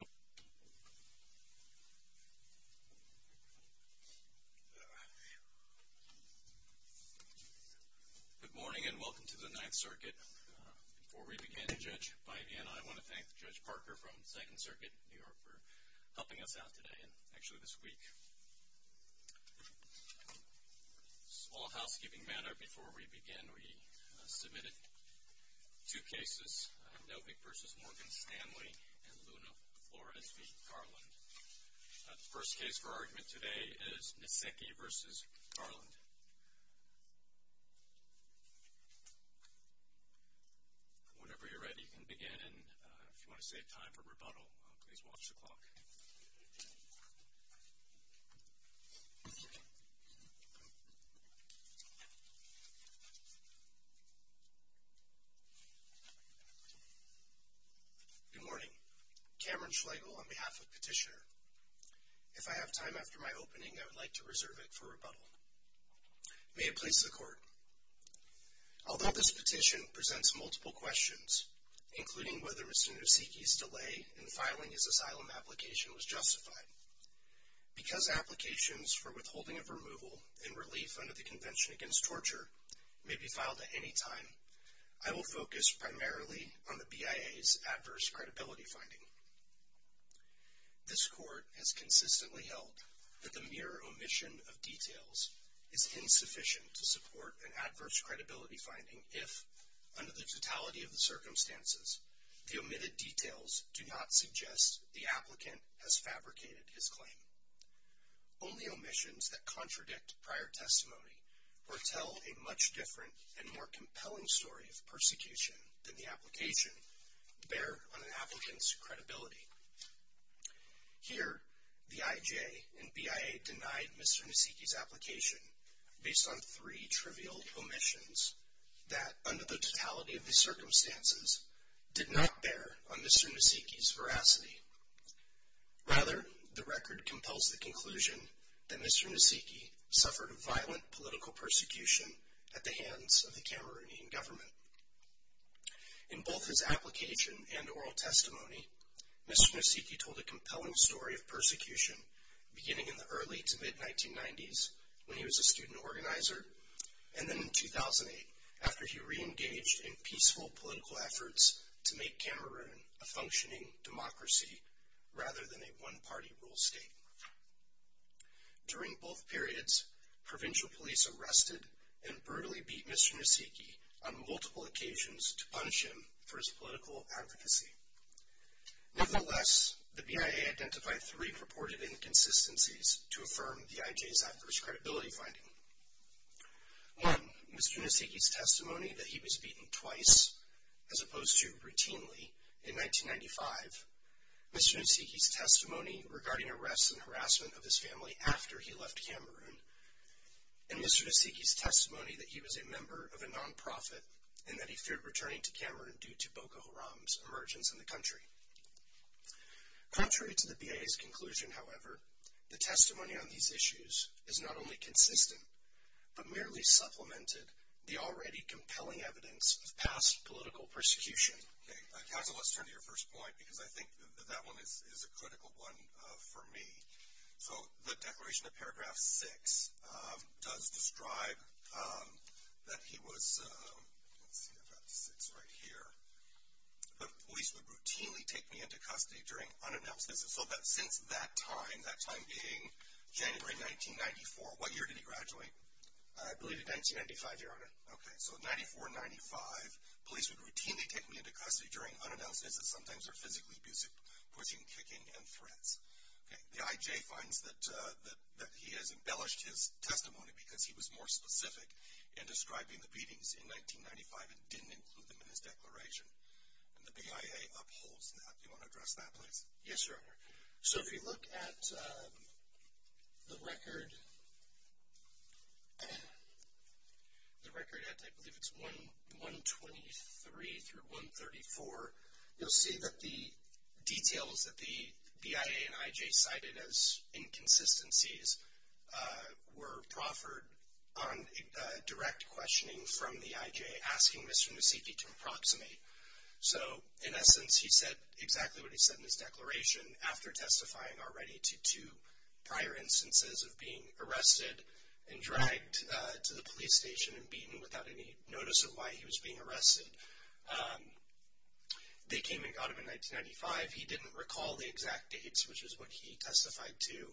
Good morning and welcome to the Ninth Circuit. Before we begin, Judge Bide and I want to thank Judge Parker from Second Circuit New York for helping us out today and actually this week. Small housekeeping matter before we begin, we submitted two cases, Novick v. Morgan-Stanley and Luna-Flores v. Garland. The first case for argument today is Nseke v. Garland. Whenever you're ready you can begin and if you want to save time for rebuttal, please watch the clock. Good morning, Cameron Schlegel on behalf of Petitioner. If I have time after my opening, I would like to reserve it for rebuttal. May it please the Court. Although this petition presents multiple questions, including whether Mr. Nseke's delay in filing his asylum application was justified, because applications for withholding of removal and relief under the Convention Against Torture may be filed at any time, I will focus primarily on the BIA's adverse credibility finding. This Court has consistently held that the mere omission of details is insufficient to support an adverse credibility finding if, under the totality of the circumstances, the BIA does not suggest the applicant has fabricated his claim. Only omissions that contradict prior testimony or tell a much different and more compelling story of persecution than the application bear on an applicant's credibility. Here the IJ and BIA denied Mr. Nseke's application based on three trivial omissions that, under the totality of the circumstances, did not bear on Mr. Nseke's veracity. Rather, the record compels the conclusion that Mr. Nseke suffered violent political persecution at the hands of the Cameroonian government. In both his application and oral testimony, Mr. Nseke told a compelling story of persecution beginning in the early to mid-1990s when he was a student organizer and then in 2008 after he re-engaged in peaceful political efforts to make Cameroon a functioning democracy rather than a one-party rule state. During both periods, provincial police arrested and brutally beat Mr. Nseke on multiple occasions to punish him for his political advocacy. Nevertheless, the BIA identified three purported inconsistencies to affirm the IJ's adverse credibility finding. One, Mr. Nseke's testimony that he was beaten twice, as opposed to routinely, in 1995. Mr. Nseke's testimony regarding arrests and harassment of his family after he left Cameroon. And Mr. Nseke's testimony that he was a member of a non-profit and that he feared returning to Cameroon due to Boko Haram's emergence in the country. Contrary to the BIA's conclusion, however, the testimony on these issues is not only consistent but merely supplemented the already compelling evidence of past political persecution. Okay, Council, let's turn to your first point because I think that that one is a critical one for me. So the declaration of paragraph six does describe that he was, let's see, I've got six right here. The police would routinely take me into custody during unannounced visits. So that since that time, that time being January 1994, what year did he graduate? I believe in 1995, Your Honor. Okay, so 94-95, police would routinely take me into custody during unannounced visits, sometimes they're physically abusive, forcing kicking and threats. The IJ finds that he has embellished his testimony because he was more specific in describing the beatings in 1995 and didn't include them in his declaration, and the BIA upholds that. Do you want to address that, please? Yes, Your Honor. So if you look at the record, the record at, I believe it's 123 through 134, you'll see that the details that the BIA and IJ cited as inconsistencies were proffered on direct questioning from the IJ asking Mr. Nasiki to approximate. So in essence, he said exactly what he said in his declaration after testifying already to two prior instances of being arrested and dragged to the police station and beaten without any notice of why he was being arrested. They came and got him in 1995. He didn't recall the exact dates, which is what he testified to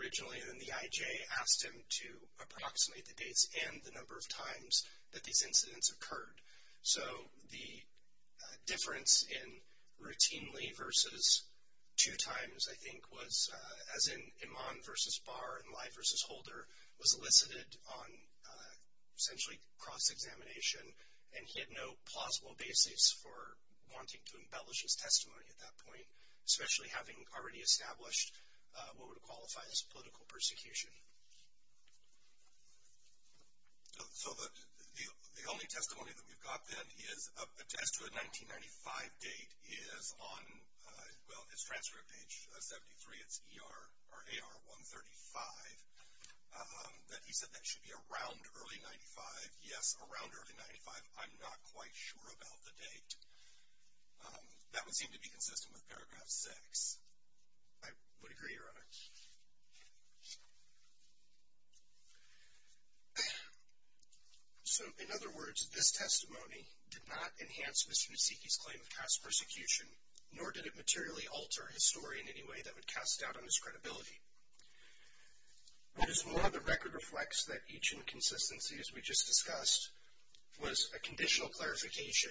originally, and then the IJ asked him to approximate the dates and the number of times that these incidents occurred. So the difference in routinely versus two times, I think, was as in Iman versus Barr and Leib versus Holder was elicited on essentially cross-examination, and he had no plausible basis for wanting to embellish his testimony at that point, especially having already established what would qualify as political persecution. So the only testimony that we've got, then, is a test to a 1995 date is on, well, it's 1995, that he said that should be around early 95. Yes, around early 95. I'm not quite sure about the date. That would seem to be consistent with paragraph six. I would agree, Your Honor. So in other words, this testimony did not enhance Mr. Nasiki's claim of past persecution, nor did it materially alter his story in any way that would cast doubt on his credibility. What is more, the record reflects that each inconsistency, as we just discussed, was a conditional clarification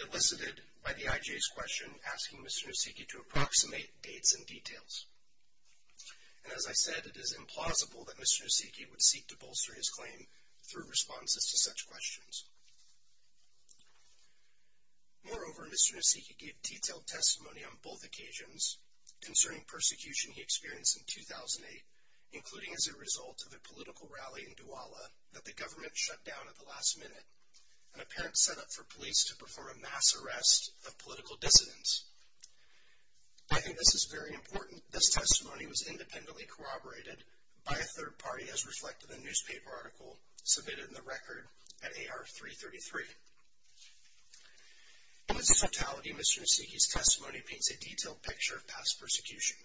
elicited by the IJ's question, asking Mr. Nasiki to approximate dates and details. And as I said, it is implausible that Mr. Nasiki would seek to bolster his claim through responses to such questions. Moreover, Mr. Nasiki gave detailed testimony on both occasions concerning persecution he experienced in 2008, including as a result of a political rally in Douala that the government shut down at the last minute, an apparent setup for police to perform a mass arrest of political dissidents. I think this is very important. This testimony was independently corroborated by a third party, as reflected in a newspaper article submitted in the record at AR333. In its totality, Mr. Nasiki's testimony paints a detailed picture of past persecution.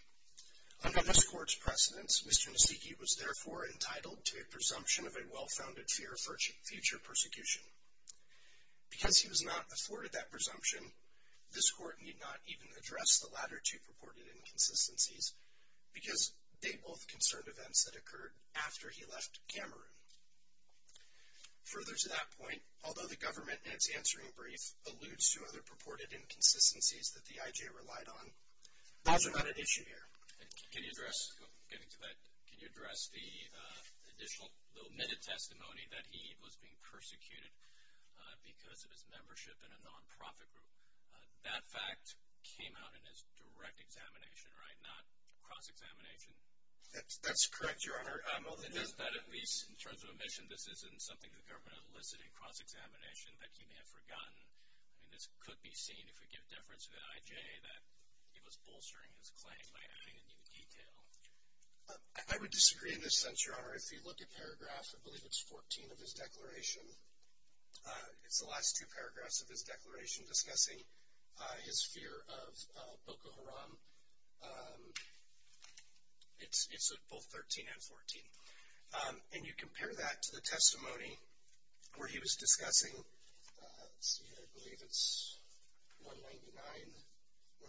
Under this court's precedence, Mr. Nasiki was therefore entitled to a presumption of a well-founded fear for future persecution. Because he was not afforded that presumption, this court need not even address the latter two purported inconsistencies because they both concerned events that occurred after he left Cameroon. Further to that point, although the government, in its answering brief, alludes to other purported inconsistencies that the IJ relied on, those are not an issue here. And can you address, getting to that, can you address the additional, the omitted testimony that he was being persecuted because of his membership in a non-profit group? That fact came out in his direct examination, right? Not cross-examination. That's correct, Your Honor. It is, but at least in terms of omission, this isn't something the government elicited in cross-examination that he may have forgotten. I mean, this could be seen, if we give deference to the IJ, that he was bolstering his claim by adding a new detail. I would disagree in this sense, Your Honor. If you look at paragraph, I believe it's 14 of his declaration. It's the last two paragraphs of his declaration discussing his fear of Boko Haram. It's both 13 and 14. And you compare that to the testimony where he was discussing, let's see, I believe it's 199,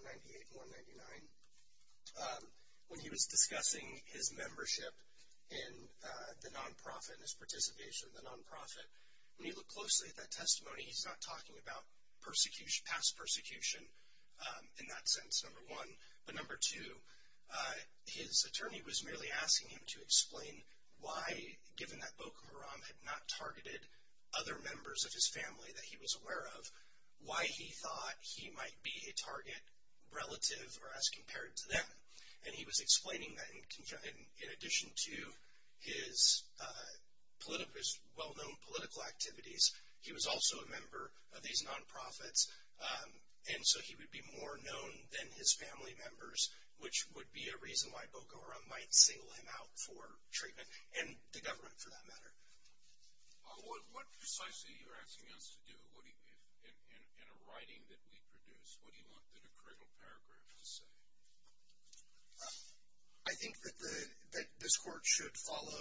198, 199, when he was discussing his membership in the non-profit, his participation in the non-profit. When you look closely at that testimony, he's not talking about persecution, past persecution in that sense, number one. But number two, his attorney was merely asking him to explain why, given that Boko Haram had not targeted other members of his family that he was aware of, why he thought he might be a target relative or as compared to them. And he was explaining that in addition to his well-known political activities, he was also a member of these non-profits. And so he would be more known than his family members, which would be a reason why Boko Haram might single him out for treatment and the government for that matter. What precisely are you asking us to do in a writing that we produce? What do you want the decredible paragraph to say? I think that this court should follow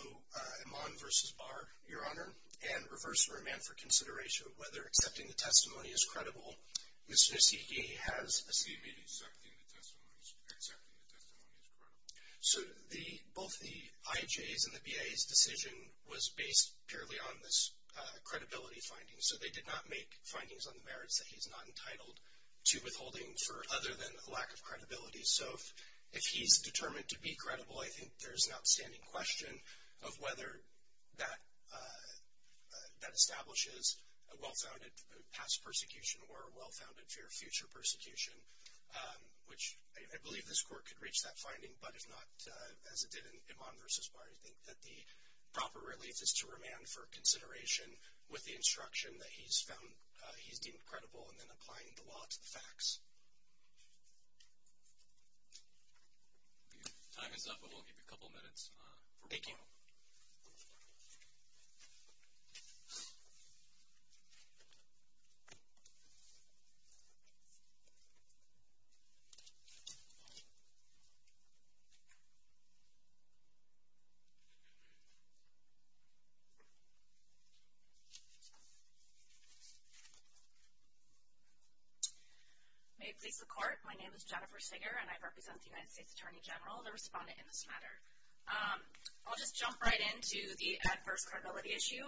Iman versus Barr, Your Honor, and reverse and remand for consideration of whether accepting the testimony is credible. Mr. Nusiki has a- He made accepting the testimony as credible. So both the IJ's and the BIA's decision was based purely on this credibility finding. So they did not make findings on the merits that he's not entitled to withholding for other than a lack of credibility. So if he's determined to be credible, I think there's an outstanding question of whether that establishes a well-founded past persecution or a well-founded future persecution, which I believe this court could reach that finding. But if not, as it did in Iman versus Barr, I think that the proper relief is to remand for consideration with the instruction that he's found he's deemed credible and then applying the law to the facts. Time is up, but we'll give you a couple minutes for rebuttal. Thank you. May it please the court, my name is Jennifer Sager, and I represent the United States Attorney General, the respondent in this matter. I'll just jump right into the adverse credibility issue.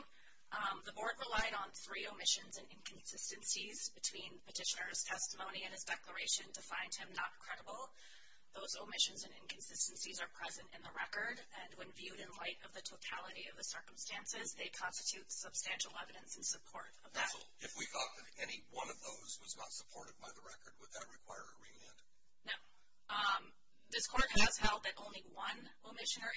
The board relied on three omissions and inconsistencies between petitioner's testimony and his declaration to find him not credible. Those omissions and inconsistencies are present in the record, and when viewed in light of the totality of the circumstances, they constitute substantial evidence in support of that. If we thought that any one of those was not supported by the record, would that require a remand? No. This court has held that only one omission or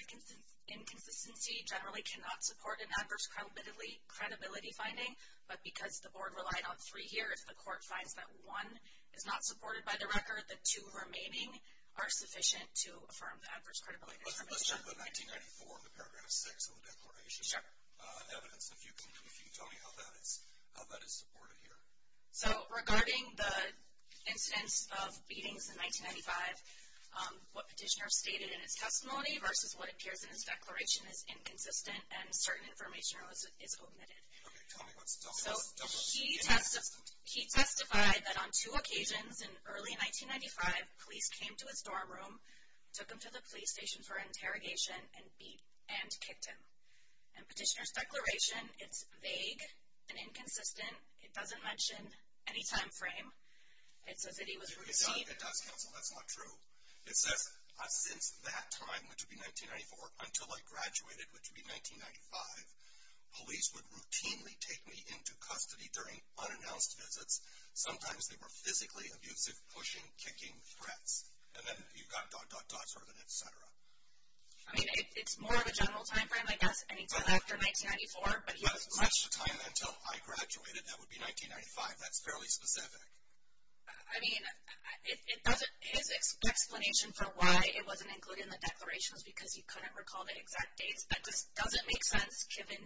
inconsistency generally cannot support an adverse credibility finding, but because the board relied on three here, if the court finds that one is not supported by the record, the two remaining are sufficient to affirm the adverse credibility. Let's talk about 1994 in the paragraph six of the declaration. Sure. Evidence, if you can tell me how that is supported here. So, regarding the instance of beatings in 1995, what petitioner stated in his testimony versus what appears in his declaration is inconsistent, and certain information is omitted. Okay, tell me what's double omitted. He testified that on two occasions in early 1995, police came to his dorm room, took him to the police station for interrogation, and kicked him. In petitioner's declaration, it's vague and inconsistent. It doesn't mention any time frame. It says that he was received. It does cancel. That's not true. It says, since that time, which would be 1994, until I graduated, which would be 1995, police would routinely take me into custody during unannounced visits. Sometimes, they were physically abusive, pushing, kicking, threats. And then, you've got dot, dot, dot, sort of an et cetera. I mean, it's more of a general time frame, I guess, any time after 1994. But, he has much time until I graduated. That would be 1995. That's fairly specific. I mean, it doesn't, his explanation for why it wasn't included in the declaration was because he couldn't recall the exact dates. That just doesn't make sense, given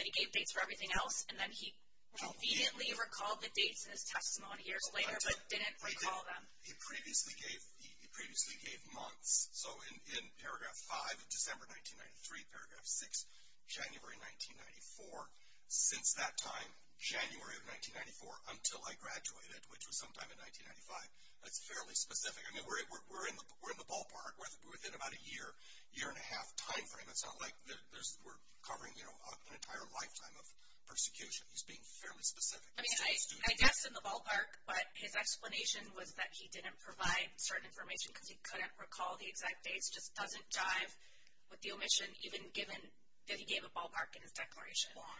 that he gave dates for everything else. And then, he conveniently recalled the dates in his testimony years later, but didn't recall them. He previously gave, he previously gave months. So, in paragraph five, in December 1993, paragraph six, January 1994, since that time, January of 1994, until I graduated, which was sometime in 1995. That's fairly specific. I mean, we're in the ballpark. We're within about a year, year and a half time frame. It's not like there's, we're covering, you know, an entire lifetime of persecution. He's being fairly specific. He's still a student. I mean, I guessed in the ballpark, but his explanation was that he didn't provide certain information because he couldn't recall the exact dates. Just doesn't jive with the omission, even given that he gave a ballpark in his declaration. Why?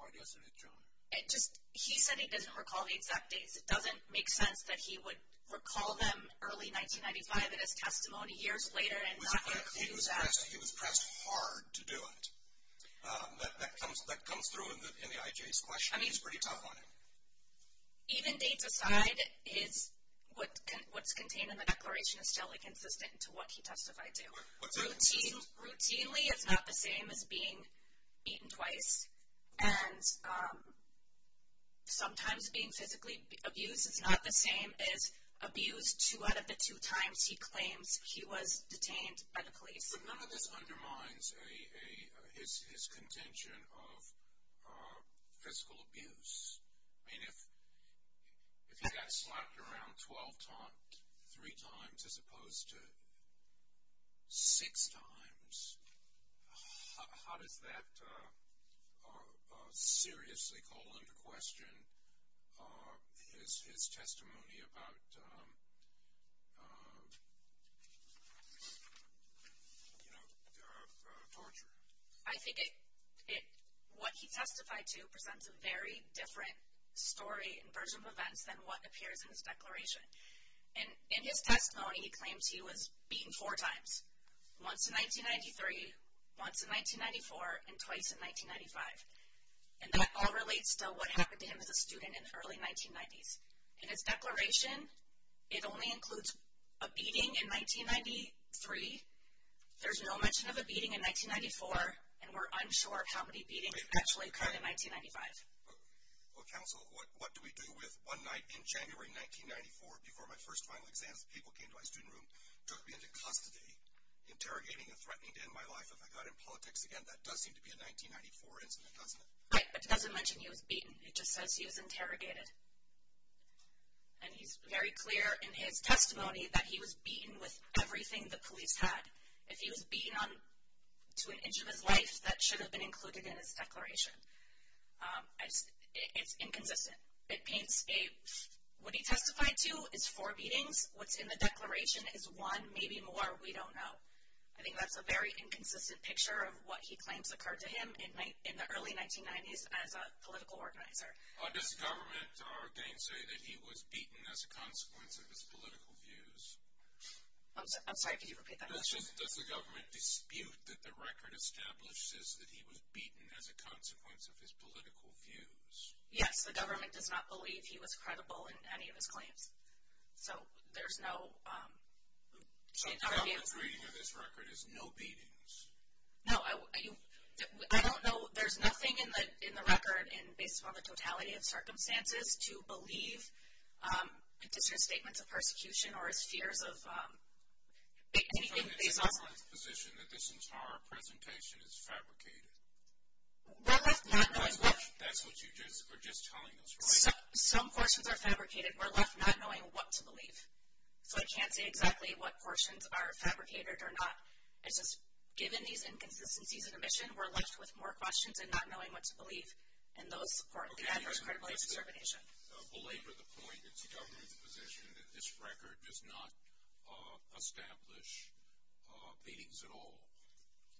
Why doesn't it, Joan? It just, he said he doesn't recall the exact dates. It doesn't make sense that he would recall them early 1995 in his testimony, years later, and not include that. He was pressed, he was pressed hard to do it. That comes, that comes through in the IJ's question. He's pretty tough on it. Even dates aside, his, what's contained in the declaration is still, like, consistent to what he testified to. Routinely, it's not the same as being eaten twice. And sometimes being physically abused is not the same as abused two out of the two times he claims he was detained by the police. But none of this undermines a, his contention of physical abuse. I mean, if he got slapped around 12 times, three times, as opposed to six times, how does that seriously call into question his testimony about, you know, torture? I think it, what he testified to presents a very different story and version of events than what appears in his declaration. In his testimony, he claims he was beaten four times. Once in 1993, once in 1994, and twice in 1995. And that all relates to what happened to him as a student in the early 1990s. In his declaration, it only includes a beating in 1993, there's no mention of a beating in 1994, and we're unsure of how many beatings actually occurred in 1995. Well, counsel, what do we do with one night in January 1994, before my first final exams, people came to my student room, took me into custody, interrogating and threatening to end my life if I got in politics again? That does seem to be a 1994 incident, doesn't it? Right, but it doesn't mention he was beaten, it just says he was interrogated. And he's very clear in his testimony that he was beaten with everything the police had. If he was beaten on, to an inch of his life, that should have been included in his declaration. It's inconsistent. It paints a, what he testified to is four beatings, what's in the declaration is one, maybe more, we don't know. I think that's a very inconsistent picture of what he claims occurred to him in the early 1990s as a political organizer. Does the government, are they saying that he was beaten as a consequence of his political views? I'm sorry, could you repeat that? Does the government dispute that the record establishes that he was beaten as a consequence of his political views? Yes, the government does not believe he was credible in any of his claims. So, there's no, um, So the government's reading of this record is no beatings? No, I don't know, there's nothing in the record, based on the totality of circumstances, to believe, um, that this is a statement of persecution or his fears of, um, anything based on his position that this entire presentation is fabricated. We're left not knowing what, That's what you're just telling us, right? Some portions are fabricated, we're left not knowing what to believe. So I can't say exactly what portions are fabricated or not. It's just, given these inconsistencies in omission, we're left with more questions and not knowing what to believe, and those support the adverse credibility of subordination. Okay, I'm just going to belabor the point, it's the government's position that this record does not, uh, establish, uh, beatings at all.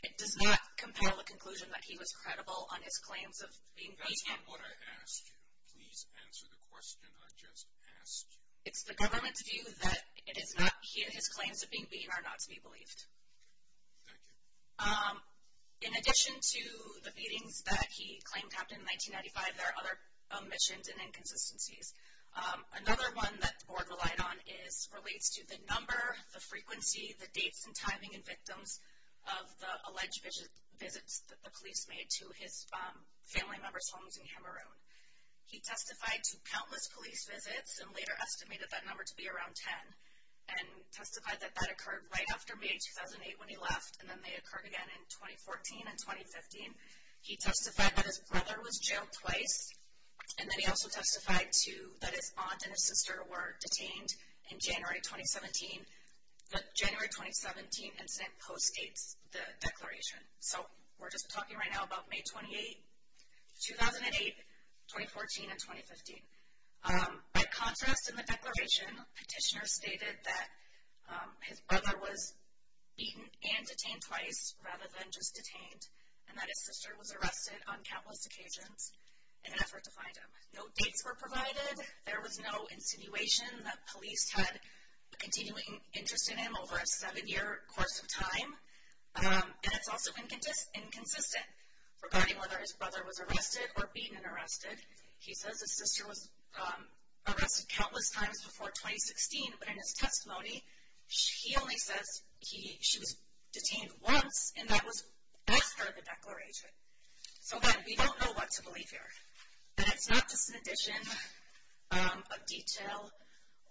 It does not compel a conclusion that he was credible on his claims of being beaten. That's not what I asked you. Please answer the question I just asked you. It's the government's view that it is not, his claims of being beaten are not to be believed. Thank you. Um, in addition to the beatings that he claimed happened in 1995, there are other omissions and inconsistencies. Um, another one that the board relied on is, relates to the number, the frequency, the dates and timing and victims of the alleged visits that the police made to his, um, family members' homes in Cameroon. He testified to countless police visits, and later estimated that number to be around 10. And testified that that occurred right after May 2008 when he left, and then they occurred again in 2014 and 2015. He testified that his brother was jailed twice, and then he also testified to, that his aunt and his sister were detained in January 2017, but January 2017 incident postdates the declaration. So, we're just talking right now about May 28, 2008, 2014, and 2015. Um, by contrast, in the declaration, petitioner stated that, um, his brother was beaten and detained twice, rather than just detained, and that his sister was arrested on countless occasions in an effort to find him. No dates were provided. There was no insinuation that police had a continuing interest in him over a seven-year course of time. Um, and it's also inconsistent regarding whether his brother was arrested or beaten and arrested. He says his sister was, um, arrested countless times before 2016, but in his testimony, he only says he, she was detained once, and that was after the declaration. So, again, we don't know what to believe here. And it's not just an addition, um, of detail,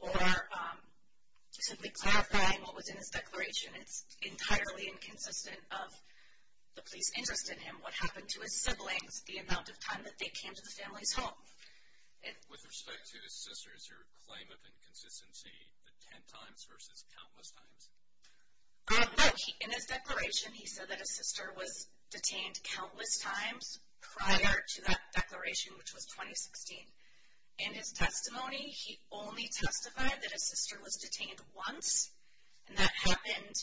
or, um, simply clarifying what was in his declaration. It's entirely inconsistent of the police interest in him, what happened to his siblings, the amount of time that they came to the family's home. And... With respect to his sisters, your claim of inconsistency, the 10 times versus countless times? Um, no. In his declaration, he said that his sister was detained countless times prior to that declaration, which was 2016. In his testimony, he only testified that his sister was detained once, and that happened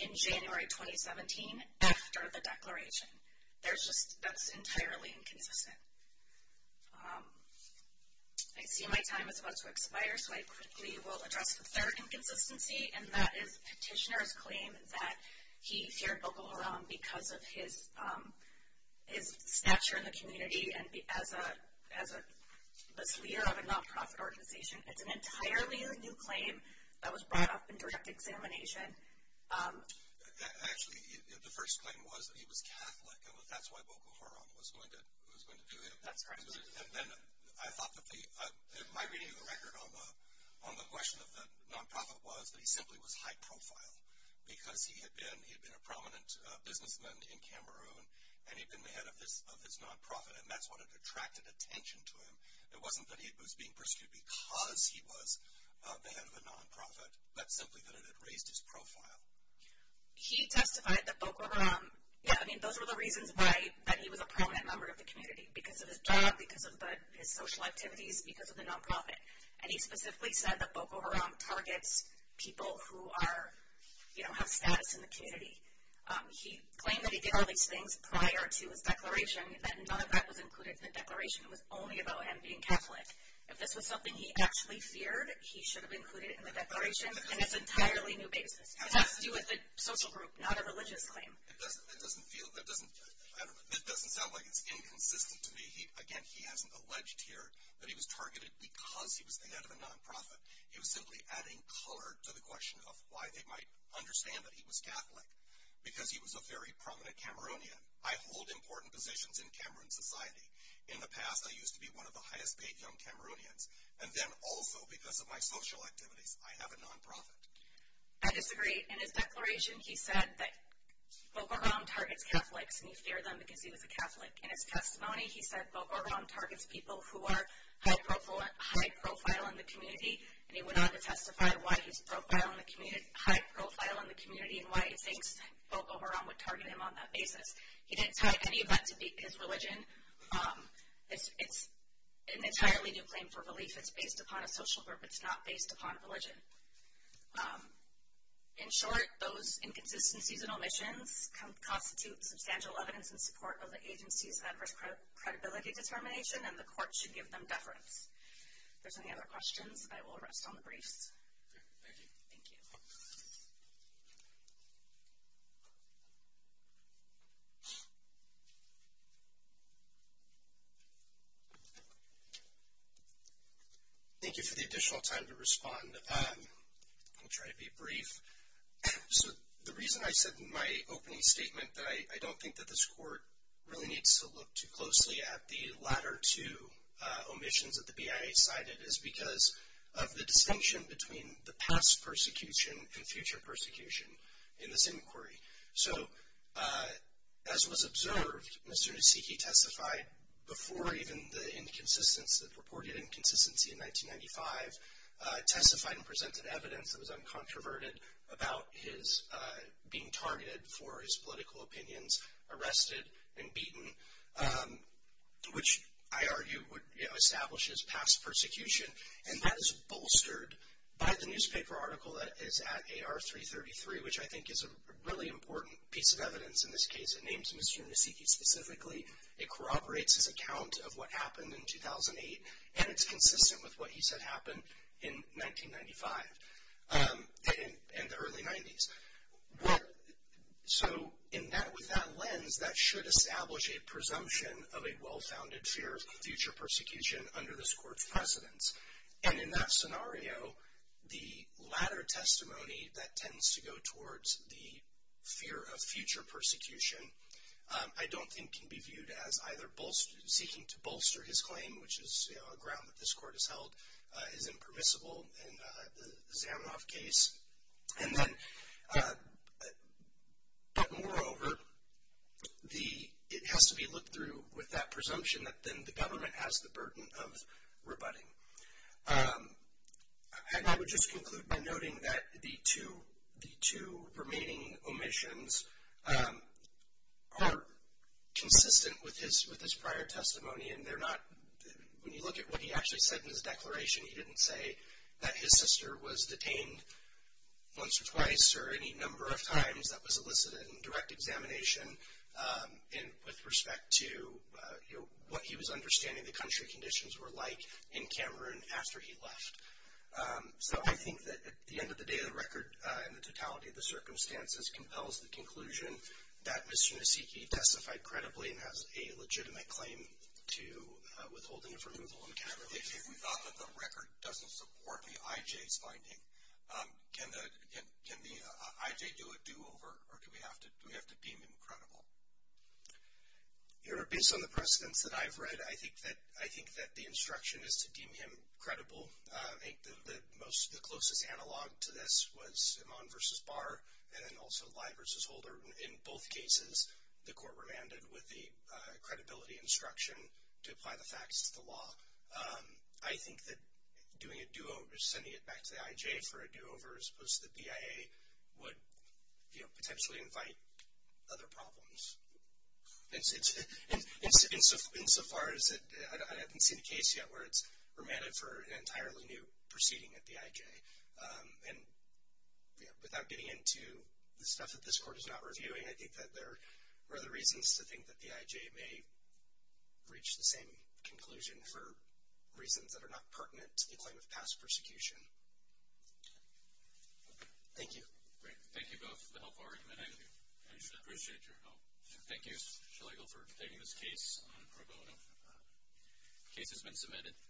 in January, 2017, after the declaration. There's just, that's entirely inconsistent. Um, I see my time is about to expire, so I quickly will address the third inconsistency, and that is Petitioner's claim that he feared Boko Haram because of his, um, his stature in the community, and as a, as a, this leader of a non-profit organization. It's an entirely new claim that was brought up in direct examination. And, um... Actually, the first claim was that he was Catholic, and that's why Boko Haram was going to, was going to do it. That's correct. And then I thought that the, my reading of the record on the, on the question of the non-profit was that he simply was high profile because he had been, he had been a prominent businessman in Cameroon, and he'd been the head of this, of this non-profit, and that's what had attracted attention to him. It wasn't that he was being persecuted because he was the head of a non-profit. That's simply that it had raised his profile. He testified that Boko Haram, yeah, I mean, those were the reasons why that he was a prominent member of the community. Because of his job, because of the, his social activities, because of the non-profit. And he specifically said that Boko Haram targets people who are, you know, have status in the community. He claimed that he did all these things prior to his declaration, that none of that was included in the declaration. It was only about him being Catholic. If this was something he actually feared, that he should have included it in the declaration, and it's an entirely new basis. It has to do with the social group, not a religious claim. It doesn't, it doesn't feel, it doesn't, I don't know, it doesn't sound like it's inconsistent to me. Again, he hasn't alleged here that he was targeted because he was the head of a non-profit. He was simply adding color to the question of why they might understand that he was Catholic. Because he was a very prominent Cameroonian. I hold important positions in Cameroon society. In the past, I used to be one of the highest paid young Cameroonians. And then also, because of my social activities, I have a non-profit. I disagree. In his declaration, he said that Bo Gorham targets Catholics, and he feared them because he was a Catholic. In his testimony, he said Bo Gorham targets people who are high profile in the community. And he went on to testify why he's profile in the community, high profile in the community, and why he thinks Bo Gorham would target him on that basis. He didn't tie any of that to his religion. It's an entirely new claim for belief. It's based upon a social group. It's not based upon religion. In short, those inconsistencies and omissions constitute substantial evidence in support of the agency's adverse credibility determination, and the court should give them deference. If there's any other questions, I will rest on the briefs. Thank you. Thank you. Thank you for the additional time to respond. I'll try to be brief. So the reason I said in my opening statement that I don't think that this court really needs to look too closely at the latter two omissions that the BIA cited is because of the distinction between the past persecution and future persecution in this inquiry. So as was observed as soon as he testified before even the inconsistency, the purported inconsistency in 1995, testified and presented evidence that was uncontroverted about his being targeted for his political opinions, arrested and beaten, which I argue would establish his past persecution. And that is bolstered by the newspaper article that is at AR333, which I think is a really important piece of evidence in this case. It names Mr. Nesiki specifically. It corroborates his account of what happened in 2008, and it's consistent with what he said happened in 1995, in the early 90s. So with that lens, that should establish a presumption of a well-founded fear of future persecution under this court's precedence. And in that scenario, the latter testimony that tends to go towards the fear of future persecution I don't think can be viewed as either seeking to bolster his claim, which is a ground that this court has held is impermissible in the Zamenhof case. And then, but moreover, it has to be looked through with that presumption that then the government has the burden of rebutting. And I would just conclude by noting that the two remaining omissions are consistent with his prior testimony, and they're not, when you look at what he actually said in his declaration, he didn't say that his sister was detained once or twice or any number of times that was elicited in direct examination with respect to, you know, what he was understanding the country conditions were like in Cameroon after he left. So I think that at the end of the day, the record and the totality of the circumstances compels the conclusion that Mr. Nesiki testified credibly and has a legitimate claim to withholding of removal in Cameroon. If you thought that the record doesn't support the IJ's finding, can the IJ do a do-over or do we have to deem him credible? You know, based on the precedents that I've read, I think that the instruction is to deem him credible. I think the closest analog to this was Iman versus Barr and then also Lye versus Holder. In both cases, the court remanded with the credibility instruction to apply the facts to the law. I think that doing a do-over, sending it back to the IJ for a do-over as opposed to the BIA would, you know, potentially invite other problems. Insofar as I haven't seen a case yet where it's remanded for an entirely new proceeding at the IJ. And, you know, without getting into the stuff that this court is not reviewing, I think that there are other reasons to think that the IJ may reach the same conclusion for reasons that are not pertinent to the claim of past persecution. Thank you. Great. Thank you both for the help. I appreciate your help. Thank you, Shelegel, for taking this case on pro bono. Case has been submitted.